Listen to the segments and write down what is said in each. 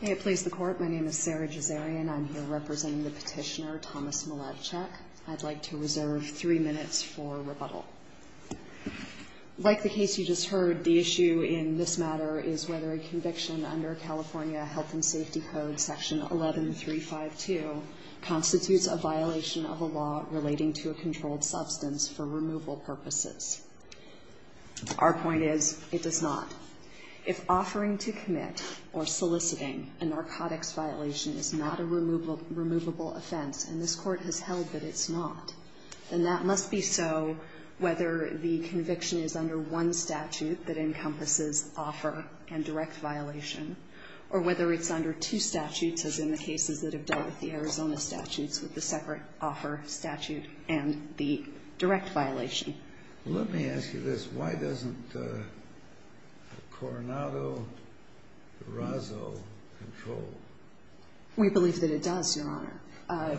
May it please the Court, my name is Sarah Jezarian. I'm here representing the petitioner Thomas Mielewczyk. I'd like to reserve three minutes for rebuttal. Like the case you just heard, the issue in this matter is whether a conviction under California Health and Safety Code section 11352 constitutes a violation of a law relating to a controlled substance for removal purposes. Our point is it does not. If offering to commit or soliciting a narcotics violation is not a removable offense, and this Court has held that it's not, then that must be so whether the conviction is under one statute that encompasses offer and direct violation, or whether it's under two statutes as in the cases that have dealt with the Arizona statutes with the separate offer statute and the direct violation. Let me ask you this. Why doesn't Coronado-Durazo control? We believe that it does, Your Honor.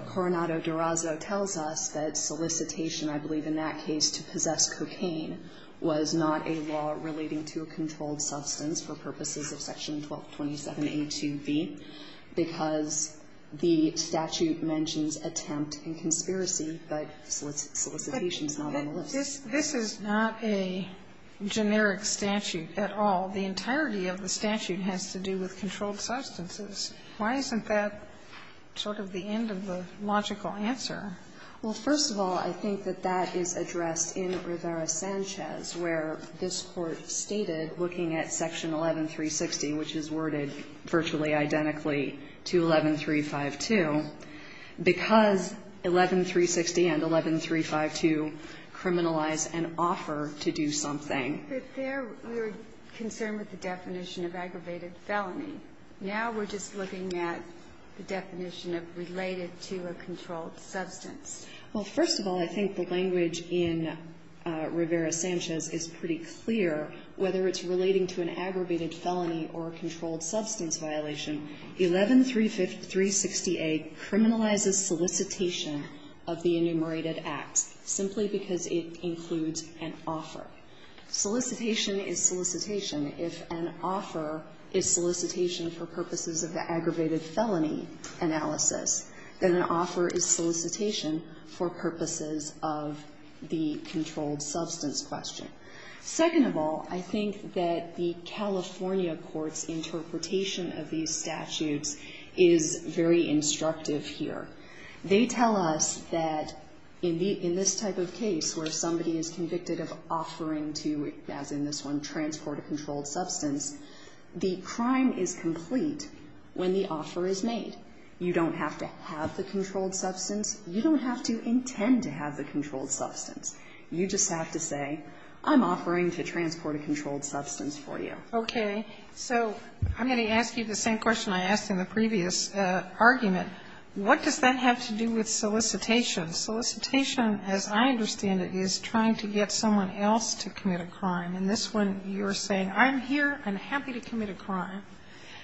Coronado-Durazo tells us that solicitation, I believe in that case to possess cocaine, was not a law relating to a controlled substance for purposes of section 1227A2B because the statute mentions attempt and conspiracy, but solicitation is not a generic statute at all. The entirety of the statute has to do with controlled substances. Why isn't that sort of the end of the logical answer? Well, first of all, I think that that is addressed in Rivera-Sanchez, where this Court stated, looking at section 11360, which is worded virtually identically to 11352, because 11360 and 11352 criminalize an offer to do something. But there we were concerned with the definition of aggravated felony. Now we're just looking at the definition of related to a controlled substance. Well, first of all, I think the language in Rivera-Sanchez is pretty clear. Whether it's relating to an aggravated felony or a controlled substance violation, 11360A criminalizes solicitation of the enumerated acts, simply because it includes an offer. Solicitation is solicitation. If an offer is solicitation for purposes of the aggravated felony analysis, then an offer is solicitation for purposes of the controlled substance question. Second of all, I think that the California court's interpretation of these statutes is very instructive here. They tell us that in this type of case where somebody is convicted of offering to, as in this one, transport a controlled substance, the crime is complete when the offer is made. You don't have to have the controlled substance. You don't have to intend to have the controlled substance. You just have to say, I'm offering to transport a controlled substance for you. Okay. So I'm going to ask you the same question I asked in the previous argument. What does that have to do with solicitation? Solicitation, as I understand it, is trying to get someone else to commit a crime. In this one, you're saying, I'm here, I'm happy to commit a crime,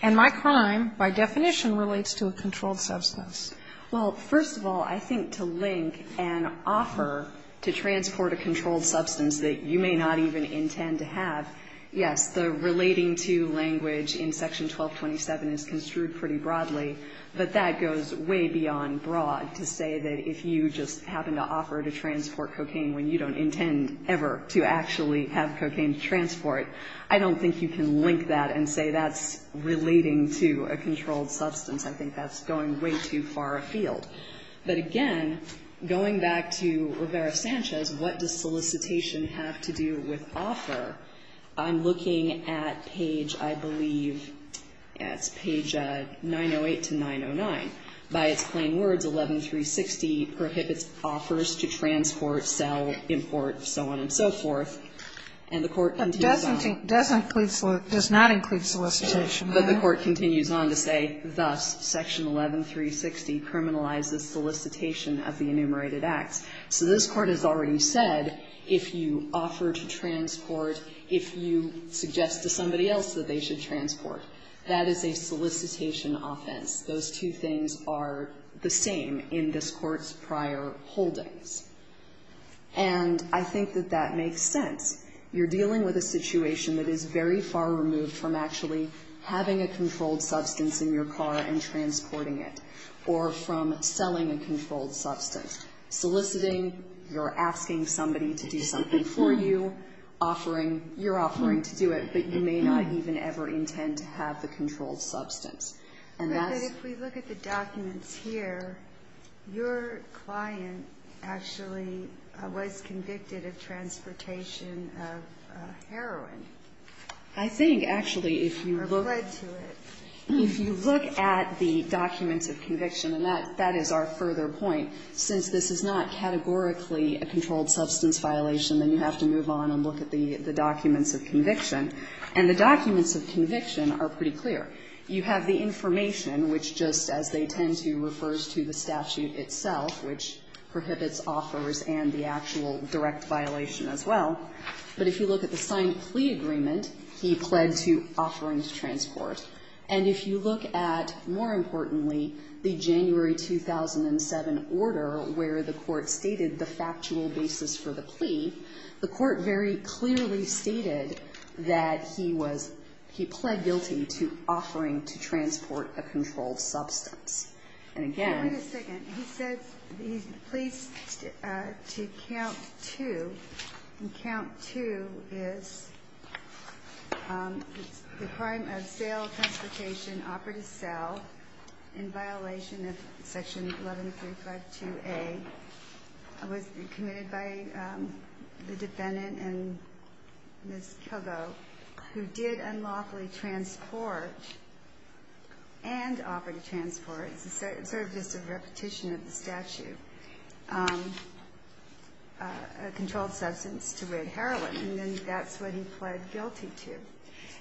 and my crime, by definition, relates to a controlled substance. Well, first of all, I think to link an offer to transport a controlled substance that you may not even intend to have, yes, the relating to language in section 1227 is construed pretty broadly, but that goes way beyond broad to say that if you just happen to offer to transport cocaine when you don't intend ever to actually have cocaine to transport, I don't think you can link that and say that's relating to a controlled substance. I think that's going way too far. But again, going back to Rivera-Sanchez, what does solicitation have to do with offer? I'm looking at page, I believe, it's page 908 to 909. By its plain words, 11360 prohibits offers to transport, sell, import, so on and so forth, and the court continues on. And thus, section 11360 criminalizes solicitation of the enumerated acts. So this Court has already said, if you offer to transport, if you suggest to somebody else that they should transport, that is a solicitation offense. Those two things are the same in this Court's prior holdings. And I think that that makes sense. You're dealing with a situation that is very far removed from actually having a controlled substance in your car and transporting it, or from selling a controlled substance. Soliciting, you're asking somebody to do something for you, offering, you're offering to do it, but you may not even ever intend to have the controlled substance. And that's... But if we look at the documents here, your client actually was convicted of transportation of heroin. I think, actually, if you look... Or led to it. If you look at the documents of conviction, and that is our further point, since this is not categorically a controlled substance violation, then you have to move on and look at the documents of conviction. And the documents of conviction are pretty clear. You have the information, which, just as they tend to, refers to the statute itself, which prohibits offers and the actual direct violation as well. But if you look at the joint plea agreement, he pled to offering to transport. And if you look at, more importantly, the January 2007 order, where the court stated the factual basis for the plea, the court very clearly stated that he pled guilty to offering to transport a controlled substance. And again... Wait a second. He says he's pleased to count two. And count two is... The crime of sale of transportation, offer to sell, in violation of Section 11352A, was committed by the defendant and Ms. Kilgo, who did unlawfully transport and offer to transport. It's sort of just a repetition of the statute. A controlled substance to rid heroin. And that's what he pled guilty to.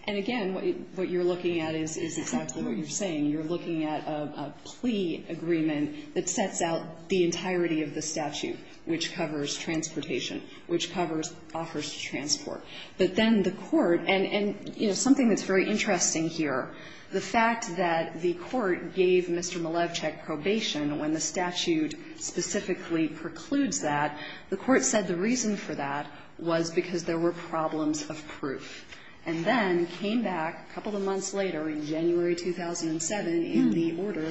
And again, what you're looking at is exactly what you're saying. You're looking at a plea agreement that sets out the entirety of the statute, which covers transportation, which covers offers to transport. But then the court, and, you know, something that's very interesting here, the fact that the court gave Mr. Malevchik probation when the statute specifically precludes that, the court said the reason for that was because there were problems of proof. And then came back a couple of months later, in January 2007, in the order,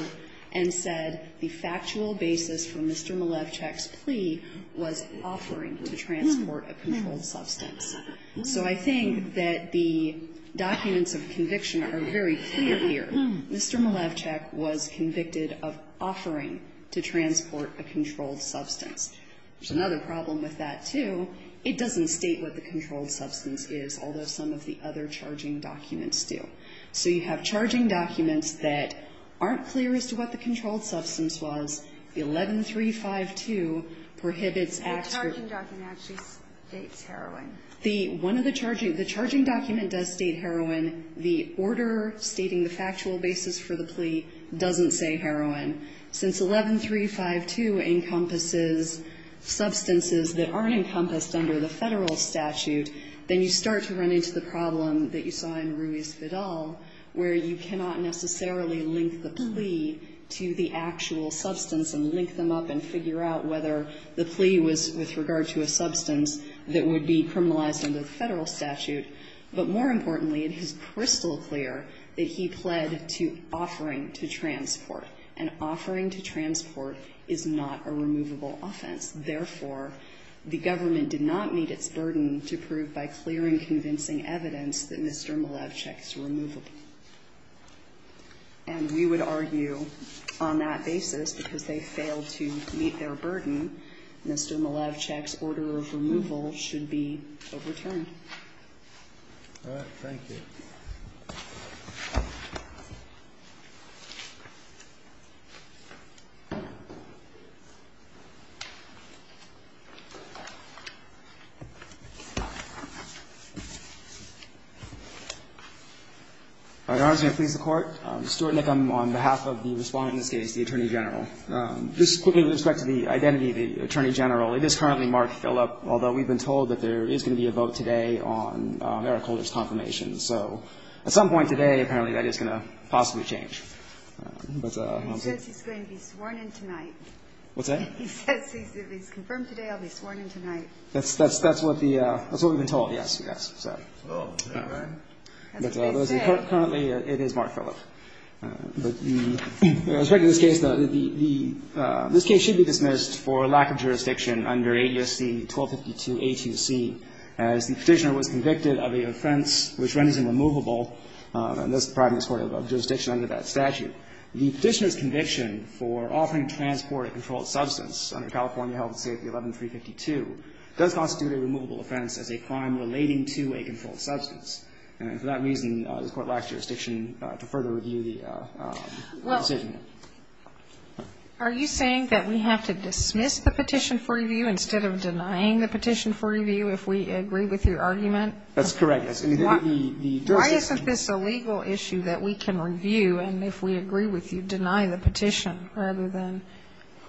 and said the factual basis for Mr. Malevchik's plea was offering to transport a controlled substance. So I think that the documents of conviction are very clear here. Mr. Malevchik was convicted of offering to transport a controlled substance. There's another problem with that, too. It doesn't state what the controlled substance is, although some of the other charging documents do. So you have charging documents that aren't clear as to what the controlled substance was. The 11352 prohibits acts where the one of the charging the charging document does state heroin. The order stating the factual basis for the plea doesn't say heroin. Since 11352, encompasses substances that aren't encompassed under the Federal statute, then you start to run into the problem that you saw in Ruiz-Fidal, where you cannot necessarily link the plea to the actual substance and link them up and figure out whether the plea was with regard to a substance that would be criminalized under the Federal statute. But more importantly, it is crystal clear that he pled to offering to transport. And offering to transport is not a removable offense. Therefore, the government did not meet its burden to prove by clear and convincing evidence that Mr. Malevchik's removable. And we would argue on that basis, because they failed to meet their burden, Mr. Malevchik's order of removal should be overturned. All right. Your Honor, I'm going to please the Court. Stuart Nick, I'm on behalf of the respondent in this case, the Attorney General. Just quickly with respect to the identity of the Attorney General, it is currently Mark Phillip, although we've been told that there is going to be a vote today on Eric Holder's confirmation. So at some point today, apparently, that is going to possibly change. But, Your Honor, I'm sorry. He says he's going to be sworn in tonight. What's that? He says if he's confirmed today, I'll be sworn in tonight. That's what we've been told, yes. That's what he said. Currently, it is Mark Phillip. With respect to this case, this case should be dismissed and the Petitioner was convicted of an offense which renders him removable. And this is the private jurisdiction under that statute. The Petitioner's conviction for offering transport of a controlled substance under California Health and Safety 11-352 does constitute a removable offense as a crime relating to a controlled substance. And for that reason, this Court lacks jurisdiction to further review the decision. Well, are you saying that we have to dismiss the petition for review instead of denying the petition for review if we agree with your argument? That's correct, yes. Why isn't this a legal issue that we can review and, if we agree with you, deny the petition rather than?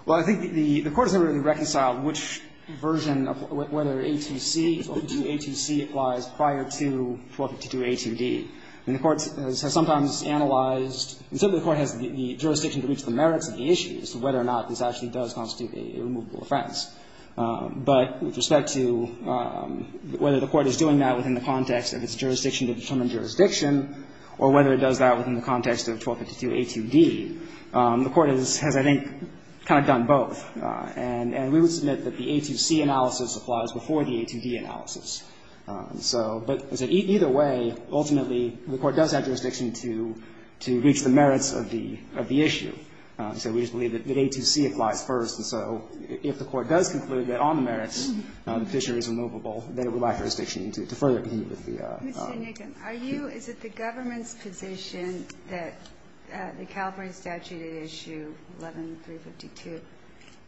Well, I think the Court has never really reconciled which version of whether A2C or 2A2C applies prior to 1252A2D. And the Court has sometimes analyzed, and certainly the Court has the jurisdiction to reach the merits of the issue as to whether or not this actually does constitute a removable offense. But with respect to whether the Court is doing that within the context of its jurisdiction to determine jurisdiction, or whether it does that within the context of 1252A2D, the Court has, I think, kind of done both. And we would submit that the A2C analysis applies before the A2D analysis. But either way, ultimately, the Court does have jurisdiction to reach the merits of the issue. So we just believe that A2C applies first. And so if the Court does conclude that on the merits, the petitioner is removable, then it would lack jurisdiction to further continue with the... Mr. Nicken, are you, is it the government's position that the California statute at issue 11352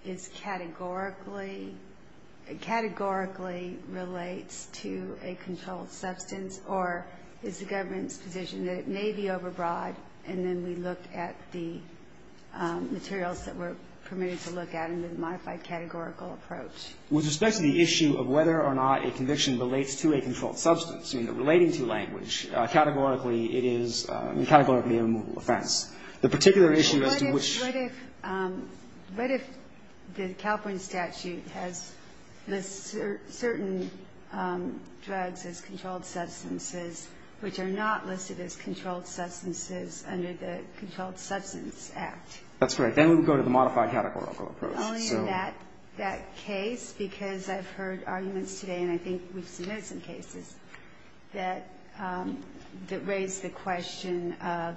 is categorically, categorically relates to a controlled substance? Or is the government's position that it may be overbroad, and then we look at the materials that we're permitted to look at in the modified categorical approach? With respect to the issue of whether or not a conviction relates to a controlled substance, you know, relating to language, categorically it is, categorically a removable offense. The particular issue as to which... The California statute has certain drugs as controlled substances, which are not listed as controlled substances under the Controlled Substance Act. That's correct. Then we would go to the modified categorical approach. Only in that case, because I've heard arguments today, and I think we've submitted some cases, that raise the question of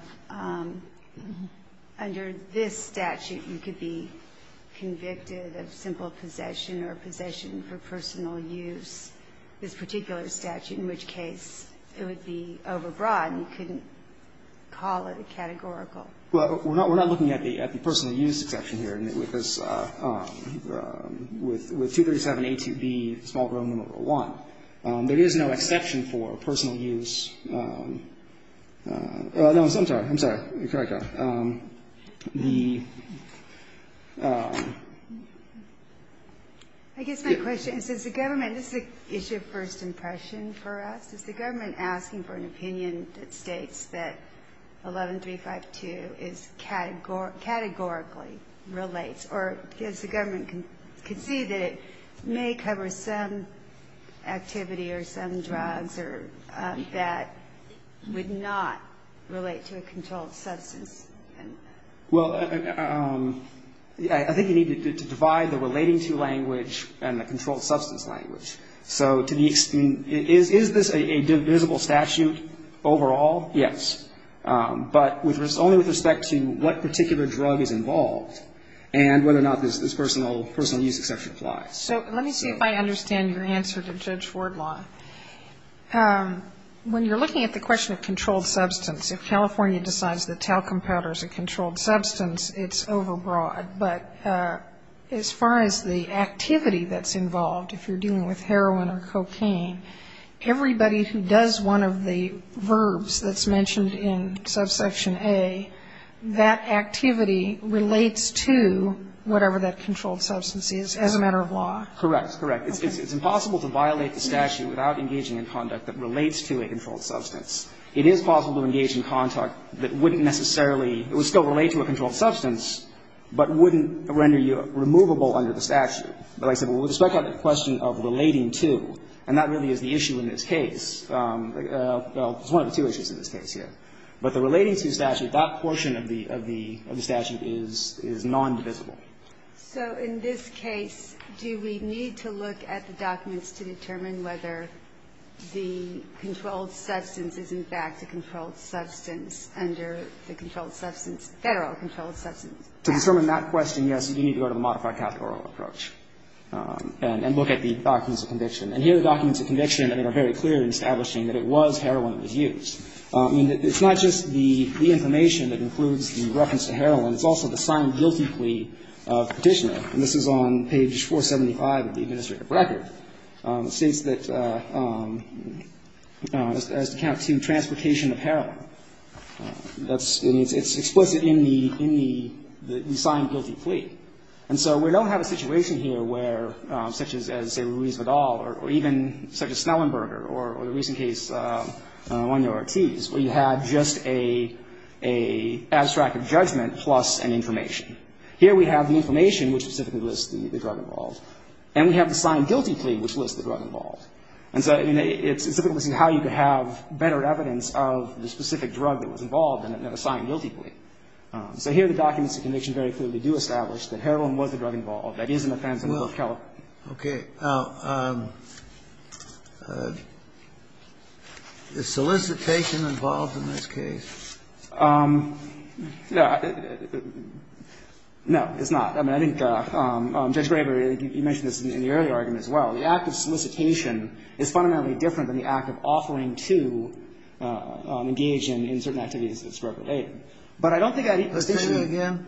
under this statute, you could be convicted of simple possession or possession for personal use, this particular statute, in which case it would be overbroad, and you couldn't call it a categorical. Well, we're not looking at the personal use exception here, because with 237A2B, small group number one, there is no exception for personal use. No, I'm sorry, I'm sorry. Sorry, John. I guess my question is, does the government, this is an issue of first impression for us, is the government asking for an opinion that states that 11352 categorically relates, or does the government concede that it may cover some activity or some drugs or that would not relate to a controlled substance? Well, I think you need to divide the relating to language and the controlled substance language. So to the extent, is this a divisible statute overall? Yes. But only with respect to what particular drug is involved, and whether or not this personal use exception applies. So let me see if I understand your answer to Judge Fordlaw. When you're looking at the question of controlled substance, if California decides that talcum powder is a controlled substance, it's overbroad. But as far as the activity that's involved, if you're dealing with heroin or cocaine, everybody who does one of the verbs that's mentioned in subsection A, that activity relates to whatever that controlled substance is as a matter of law. Correct, correct. It's impossible to violate the statute without engaging in conduct that relates to a controlled substance. It is possible to engage in conduct that wouldn't necessarily, it would still relate to a controlled substance, but wouldn't render you removable under the statute. But like I said, with respect to the question of relating to, and that really is the issue in this case, well, it's one of the two issues in this case here. But the relating to statute, that portion of the statute is non-divisible. So in this case, do we need to look at the documents to determine whether the controlled substance is in fact a controlled substance under the controlled substance, Federal controlled substance? To determine that question, yes, you need to go to a modified categorical approach and look at the documents of conviction. And here the documents of conviction, I think, are very clear in establishing that it was heroin that was used. I mean, it's not just the information that includes the reference to heroin. It's also the signed guilty plea petitioner. And this is on page 475 of the administrative record. It states that, as to count to transportation of heroin. That's, I mean, it's explicit in the, in the signed guilty plea. And so we don't have a situation here where, such as, say, Ruiz Vidal or even such as Snellenberger or the recent case, I don't know, Ortiz, where you have just a abstract of judgment plus an information. Here we have the information which specifically lists the drug involved. And we have the signed guilty plea which lists the drug involved. And so it's difficult to see how you could have better evidence of the specific drug that was involved in a signed guilty plea. So here the documents of conviction very clearly do establish that heroin was the drug That is an offense under both California. Okay. Now, is solicitation involved in this case? No. No, it's not. I mean, I think Judge Graber, you mentioned this in the earlier argument as well. The act of solicitation is fundamentally different than the act of offering to engage in certain activities that's directly related. But I don't think that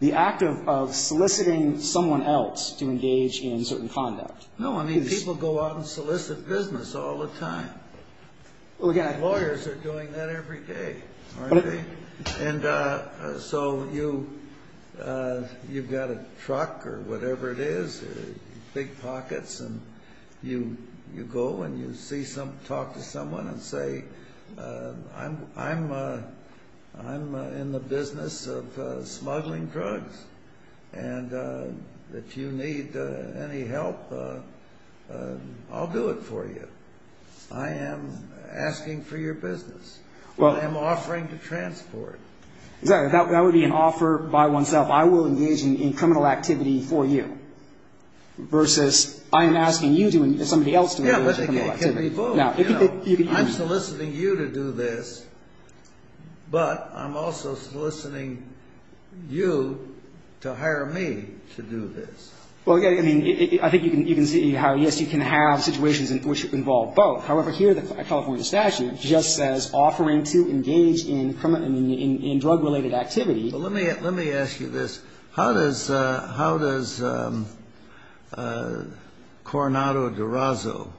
the act of soliciting someone else to engage in certain conduct. No, I mean, people go out and solicit business all the time. Well, yeah. Lawyers are doing that every day, aren't they? And so you've got a truck or whatever it is, big pockets, and you go and you talk to someone and say, I'm in the business of smuggling drugs. And if you need any help, I'll do it for you. I am asking for your business. I am offering to transport. That would be an offer by oneself. I will engage in criminal activity for you. Versus I am asking you to, and somebody else to engage in criminal activity. Yeah, but it could be both. I'm soliciting you to do this, but I'm also soliciting you to hire me to do this. Well, I think you can see how, yes, you can have situations which involve both. However, here the California statute just says offering to engage in drug-related activity. Well, let me ask you this. How does Coronado-Durazo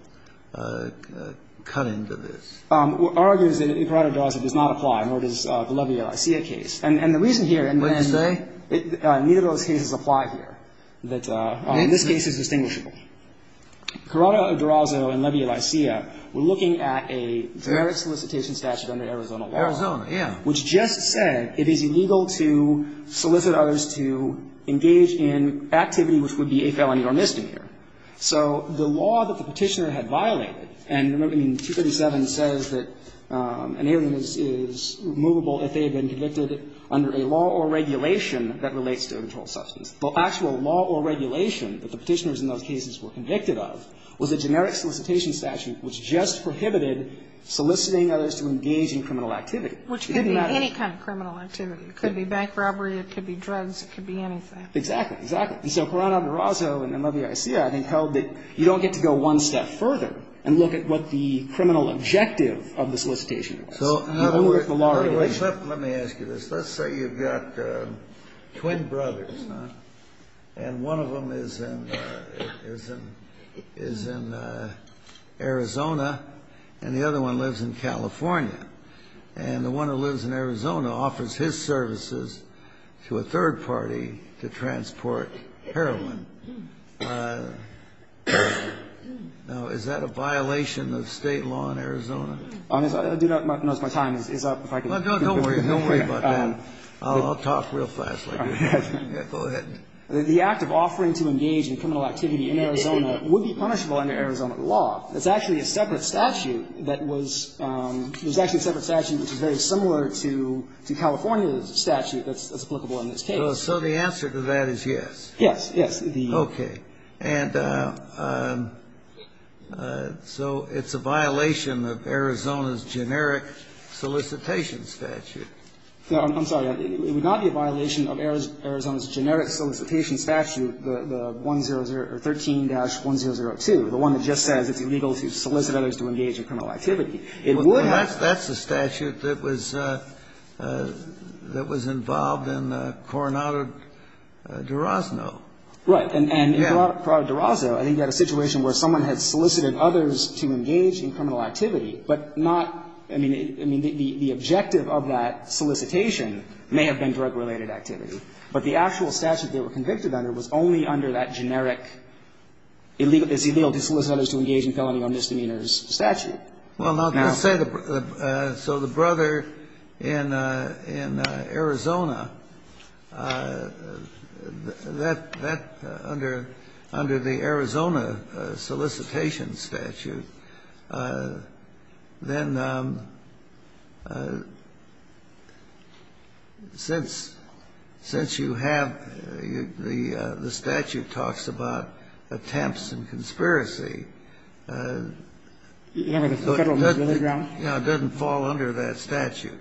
cut into this? Our argument is that Coronado-Durazo does not apply, nor does the Levi-Alicia case. And the reason here is that neither of those cases apply here. This case is distinguishable. Coronado-Durazo and Levi-Alicia were looking at a generic solicitation statute under Arizona law. Arizona, yeah. Which just said it is illegal to solicit others to engage in activity which would be a felony or misdemeanor. So the law that the Petitioner had violated, and remember, 237 says that an alien is removable if they have been convicted under a law or regulation that relates to a controlled substance. The actual law or regulation that the Petitioners in those cases were convicted of was a generic solicitation statute which just prohibited soliciting others to engage in criminal activity. Which could be any kind of criminal activity. It could be bank robbery. It could be drugs. It could be anything. Exactly. Exactly. So Coronado-Durazo and Levi-Alicia, I think, held that you don't get to go one step further and look at what the criminal objective of the solicitation is. So how do we? Let me ask you this. Let's say you've got twin brothers, and one of them is in Arizona and the other one lives in California. And the one who lives in Arizona offers his services to a third party to transport heroin. Now, is that a violation of State law in Arizona? I do not know if my time is up. Well, don't worry. Don't worry about that. I'll talk real fast. Go ahead. The act of offering to engage in criminal activity in Arizona would be punishable under Arizona law. It's actually a separate statute that was – there's actually a separate statute which is very similar to California's statute that's applicable in this case. So the answer to that is yes? Yes. Yes. Okay. And so it's a violation of Arizona's generic solicitation statute. I'm sorry. It would not be a violation of Arizona's generic solicitation statute, the 1-0-0 or 13-1-0-0-2, the one that just says it's illegal to solicit others to engage in criminal activity. It would have – Well, that's the statute that was – that was involved in Coronado de Rosno. Right. And in Coronado de Rosno, I think you had a situation where someone had solicited others to engage in criminal activity, but not – I mean, the objective of that solicitation may have been drug-related activity. But the actual statute they were convicted under was only under that generic illegal – it's illegal to solicit others to engage in felony or misdemeanors statute. Well, now, let's say the – so the brother in Arizona, that – under the Arizona solicitation statute, then since – since you have the – the statute talks about attempts and conspiracy, it doesn't fall under that statute.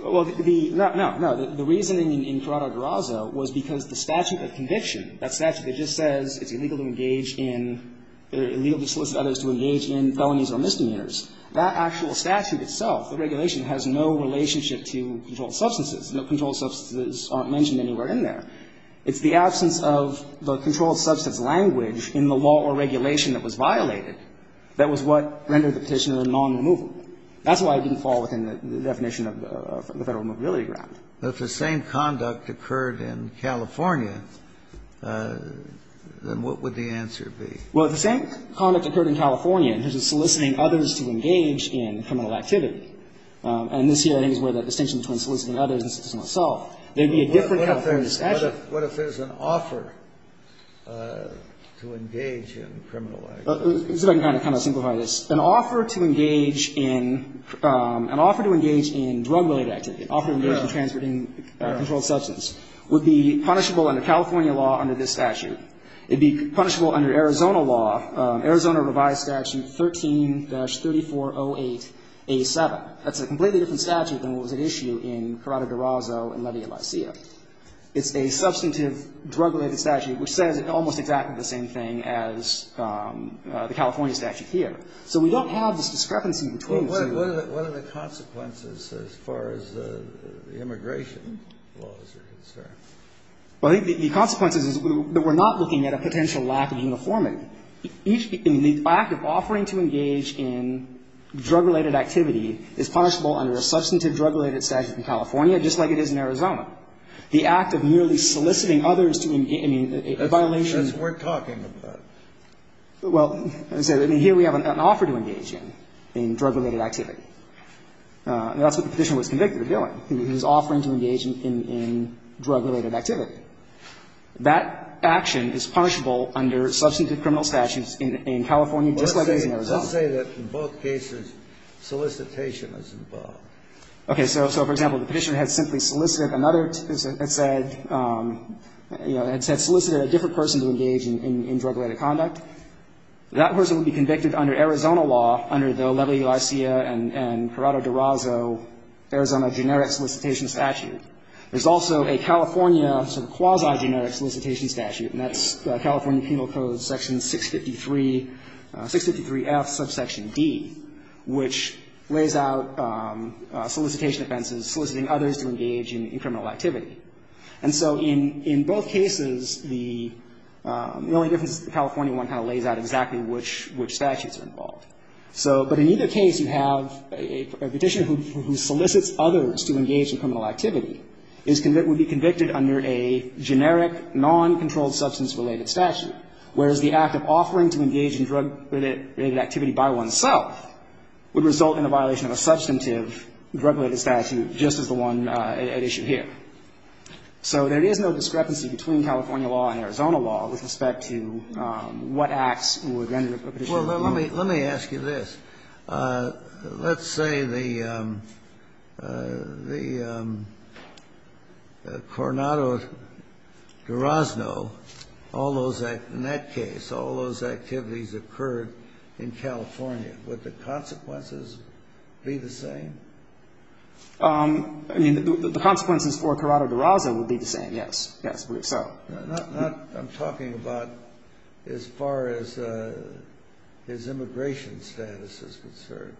Well, the – no, no. The reason in Coronado de Rosno was because the statute of conviction, that statute just says it's illegal to engage in – illegal to solicit others to engage in felonies or misdemeanors. That actual statute itself, the regulation, has no relationship to controlled substances. The controlled substances aren't mentioned anywhere in there. It's the absence of the controlled substance language in the law or regulation that was violated that was what rendered the petitioner non-removable. That's why it didn't fall within the definition of the Federal Removability Grant. If the same conduct occurred in California, then what would the answer be? Well, if the same conduct occurred in California, in terms of soliciting others to engage in criminal activity, and this here, I think, is where the distinction between soliciting others and soliciting oneself, there would be a different California statute. What if there's an offer to engage in criminal activity? If I can kind of simplify this. An offer to engage in – an offer to engage in drug-related activity, offer to engage in drug-related activity, would be punishable under California law under this statute. It would be punishable under Arizona law, Arizona revised statute 13-3408A7. That's a completely different statute than what was at issue in Corrado D'Orozzo and Levy of Licea. It's a substantive drug-related statute which says almost exactly the same thing as the California statute here. So we don't have this discrepancy between the two. So what are the consequences as far as the immigration laws are concerned? Well, the consequences is that we're not looking at a potential lack of uniformity. The act of offering to engage in drug-related activity is punishable under a substantive drug-related statute in California, just like it is in Arizona. The act of merely soliciting others to – I mean, a violation of the law. That's what we're talking about. Well, as I said, here we have an offer to engage in, in drug-related activity. That's what the Petitioner was convicted of doing. He was offering to engage in drug-related activity. That action is punishable under substantive criminal statutes in California, just like it is in Arizona. Let's say that in both cases solicitation is involved. Okay. So, for example, the Petitioner had simply solicited another – had said – you know, had said – solicited a different person to engage in drug-related conduct. That person would be convicted under Arizona law, under the Levi-Lycia and Corrado-Durazo Arizona generic solicitation statute. There's also a California sort of quasi-generic solicitation statute, and that's California Penal Code Section 653 – 653F, subsection D, which lays out solicitation offenses soliciting others to engage in criminal activity. And so in – in both cases, the – the only difference is the California one kind of lays out exactly which – which statutes are involved. So – but in either case, you have a Petitioner who solicits others to engage in criminal activity is – would be convicted under a generic, non-controlled substance-related statute, whereas the act of offering to engage in drug-related activity by oneself would result in a violation of a substantive drug-related statute, just as the one at issue here. So there is no discrepancy between California law and Arizona law with respect to what acts would render a Petitioner guilty. Well, let me – let me ask you this. Let's say the – the Corrado-Durazo, all those – in that case, all those activities occurred in California. Would the consequences be the same? I mean, the consequences for Corrado-Durazo would be the same, yes. Yes, so. Not – I'm talking about as far as his immigration status is concerned.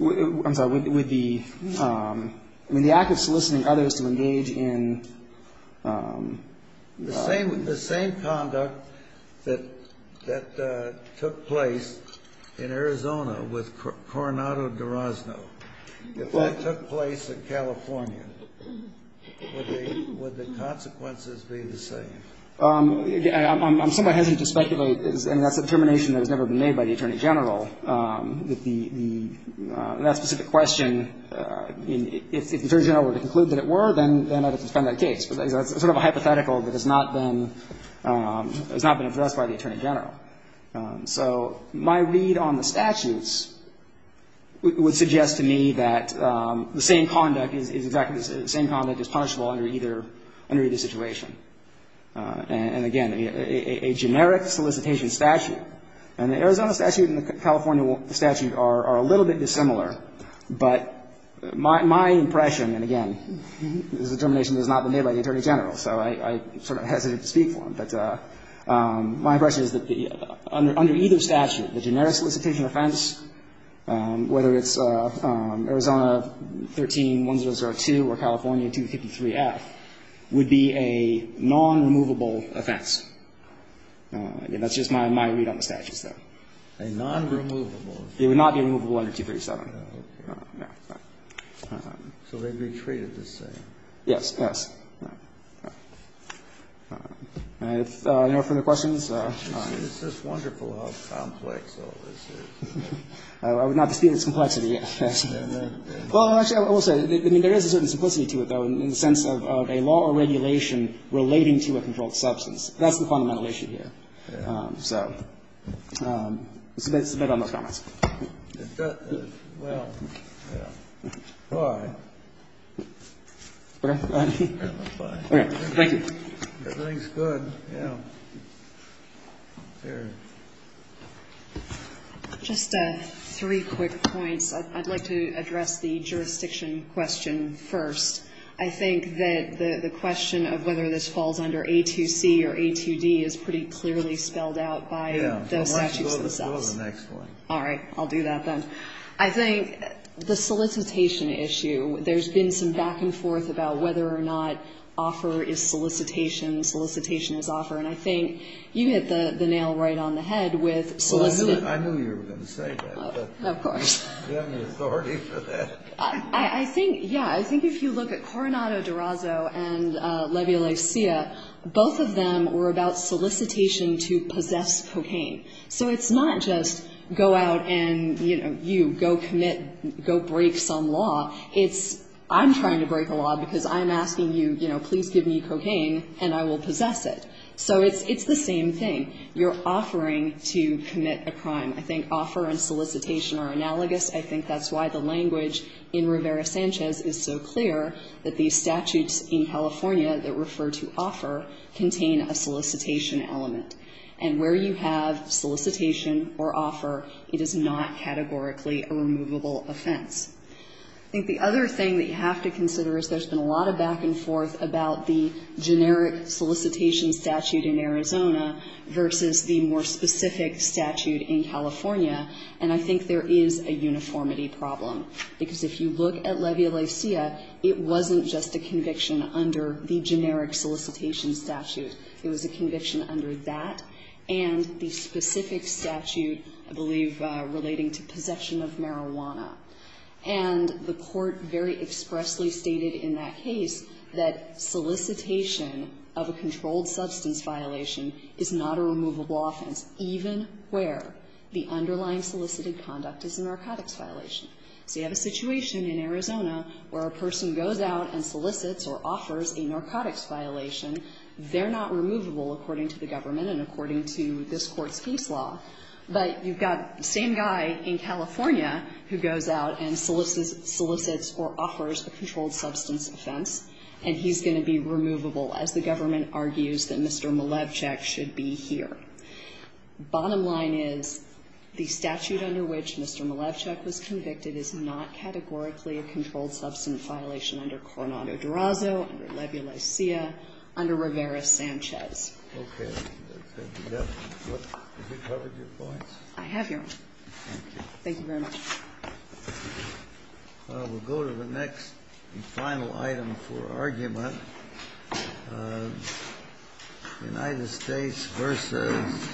I'm sorry. Would the – I mean, the act of soliciting others to engage in – The same – the same conduct that – that took place in Arizona with Coronado-Durazo if that took place in California, would the – would the consequences be the same? I'm somewhat hesitant to speculate. I mean, that's a determination that has never been made by the Attorney General that the – that specific question, if the Attorney General were to conclude that it were, then I'd have to defend that case. But that's sort of a hypothetical that has not been – has not been addressed by the Attorney General. So my read on the statutes would suggest to me that the same conduct is – exactly the same conduct is punishable under either – under either situation. And again, a generic solicitation statute. And the Arizona statute and the California statute are a little bit dissimilar. But my impression, and again, this determination has not been made by the Attorney General, so I'm sort of hesitant to speak for him. But my impression is that the – under either statute, the generic solicitation offense, whether it's Arizona 13-1002 or California 253F, would be a non-removable offense. Again, that's just my read on the statutes, though. A non-removable offense? It would not be removable under 237. Okay. Yeah. So they'd be treated the same? Yes. Yes. All right. All right. If there are no further questions. It's just wonderful how complex all this is. I would not dispute its complexity, yes. Well, actually, I will say, I mean, there is a certain simplicity to it, though, in the sense of a law or regulation relating to a controlled substance. That's the fundamental issue here. Yeah. So let's submit all those comments. Well, yeah. All right. Okay. All right. Thank you. Everything's good. Yeah. There. Just three quick points. I'd like to address the jurisdiction question first. I think that the question of whether this falls under A2C or A2D is pretty clearly spelled out by the statutes themselves. Yeah. Go to the next one. All right. I'll do that, then. I think the solicitation issue, there's been some back and forth about whether or not offer is solicitation, solicitation is offer. And I think you hit the nail right on the head with solicitation. Well, I knew you were going to say that. Of course. Do you have any authority for that? I think, yeah. I think if you look at Coronado D'Orazo and Leviolecia, both of them were about solicitation to possess cocaine. So it's not just go out and, you know, you, go commit, go break some law. It's I'm trying to break a law because I'm asking you, you know, please give me cocaine and I will possess it. So it's the same thing. You're offering to commit a crime. I think offer and solicitation are analogous. I think that's why the language in Rivera-Sanchez is so clear that these statutes in California that refer to offer contain a solicitation element. And where you have solicitation or offer, it is not categorically a removable offense. I think the other thing that you have to consider is there's been a lot of back and forth about the generic solicitation statute in Arizona versus the more specific statute in California. And I think there is a uniformity problem. Because if you look at Leviolecia, it wasn't just a conviction under the generic solicitation statute. It was a conviction under that and the specific statute, I believe, relating to possession of marijuana. And the court very expressly stated in that case that solicitation of a controlled substance violation is not a removable offense even where the underlying solicited conduct is a narcotics violation. So you have a situation in Arizona where a person goes out and solicits or offers a narcotics violation. They're not removable according to the government and according to this court's case law. But you've got the same guy in California who goes out and solicits or offers a controlled substance offense and he's going to be removable as the government argues that Mr. Malevchik should be here. Bottom line is the statute under which Mr. Malevchik was convicted is not categorically a controlled substance violation under Coronado-Durazo, under Rivera-Sanchez. Okay. Has that covered your points? I have, Your Honor. Thank you. Thank you very much. United States versus Arizona.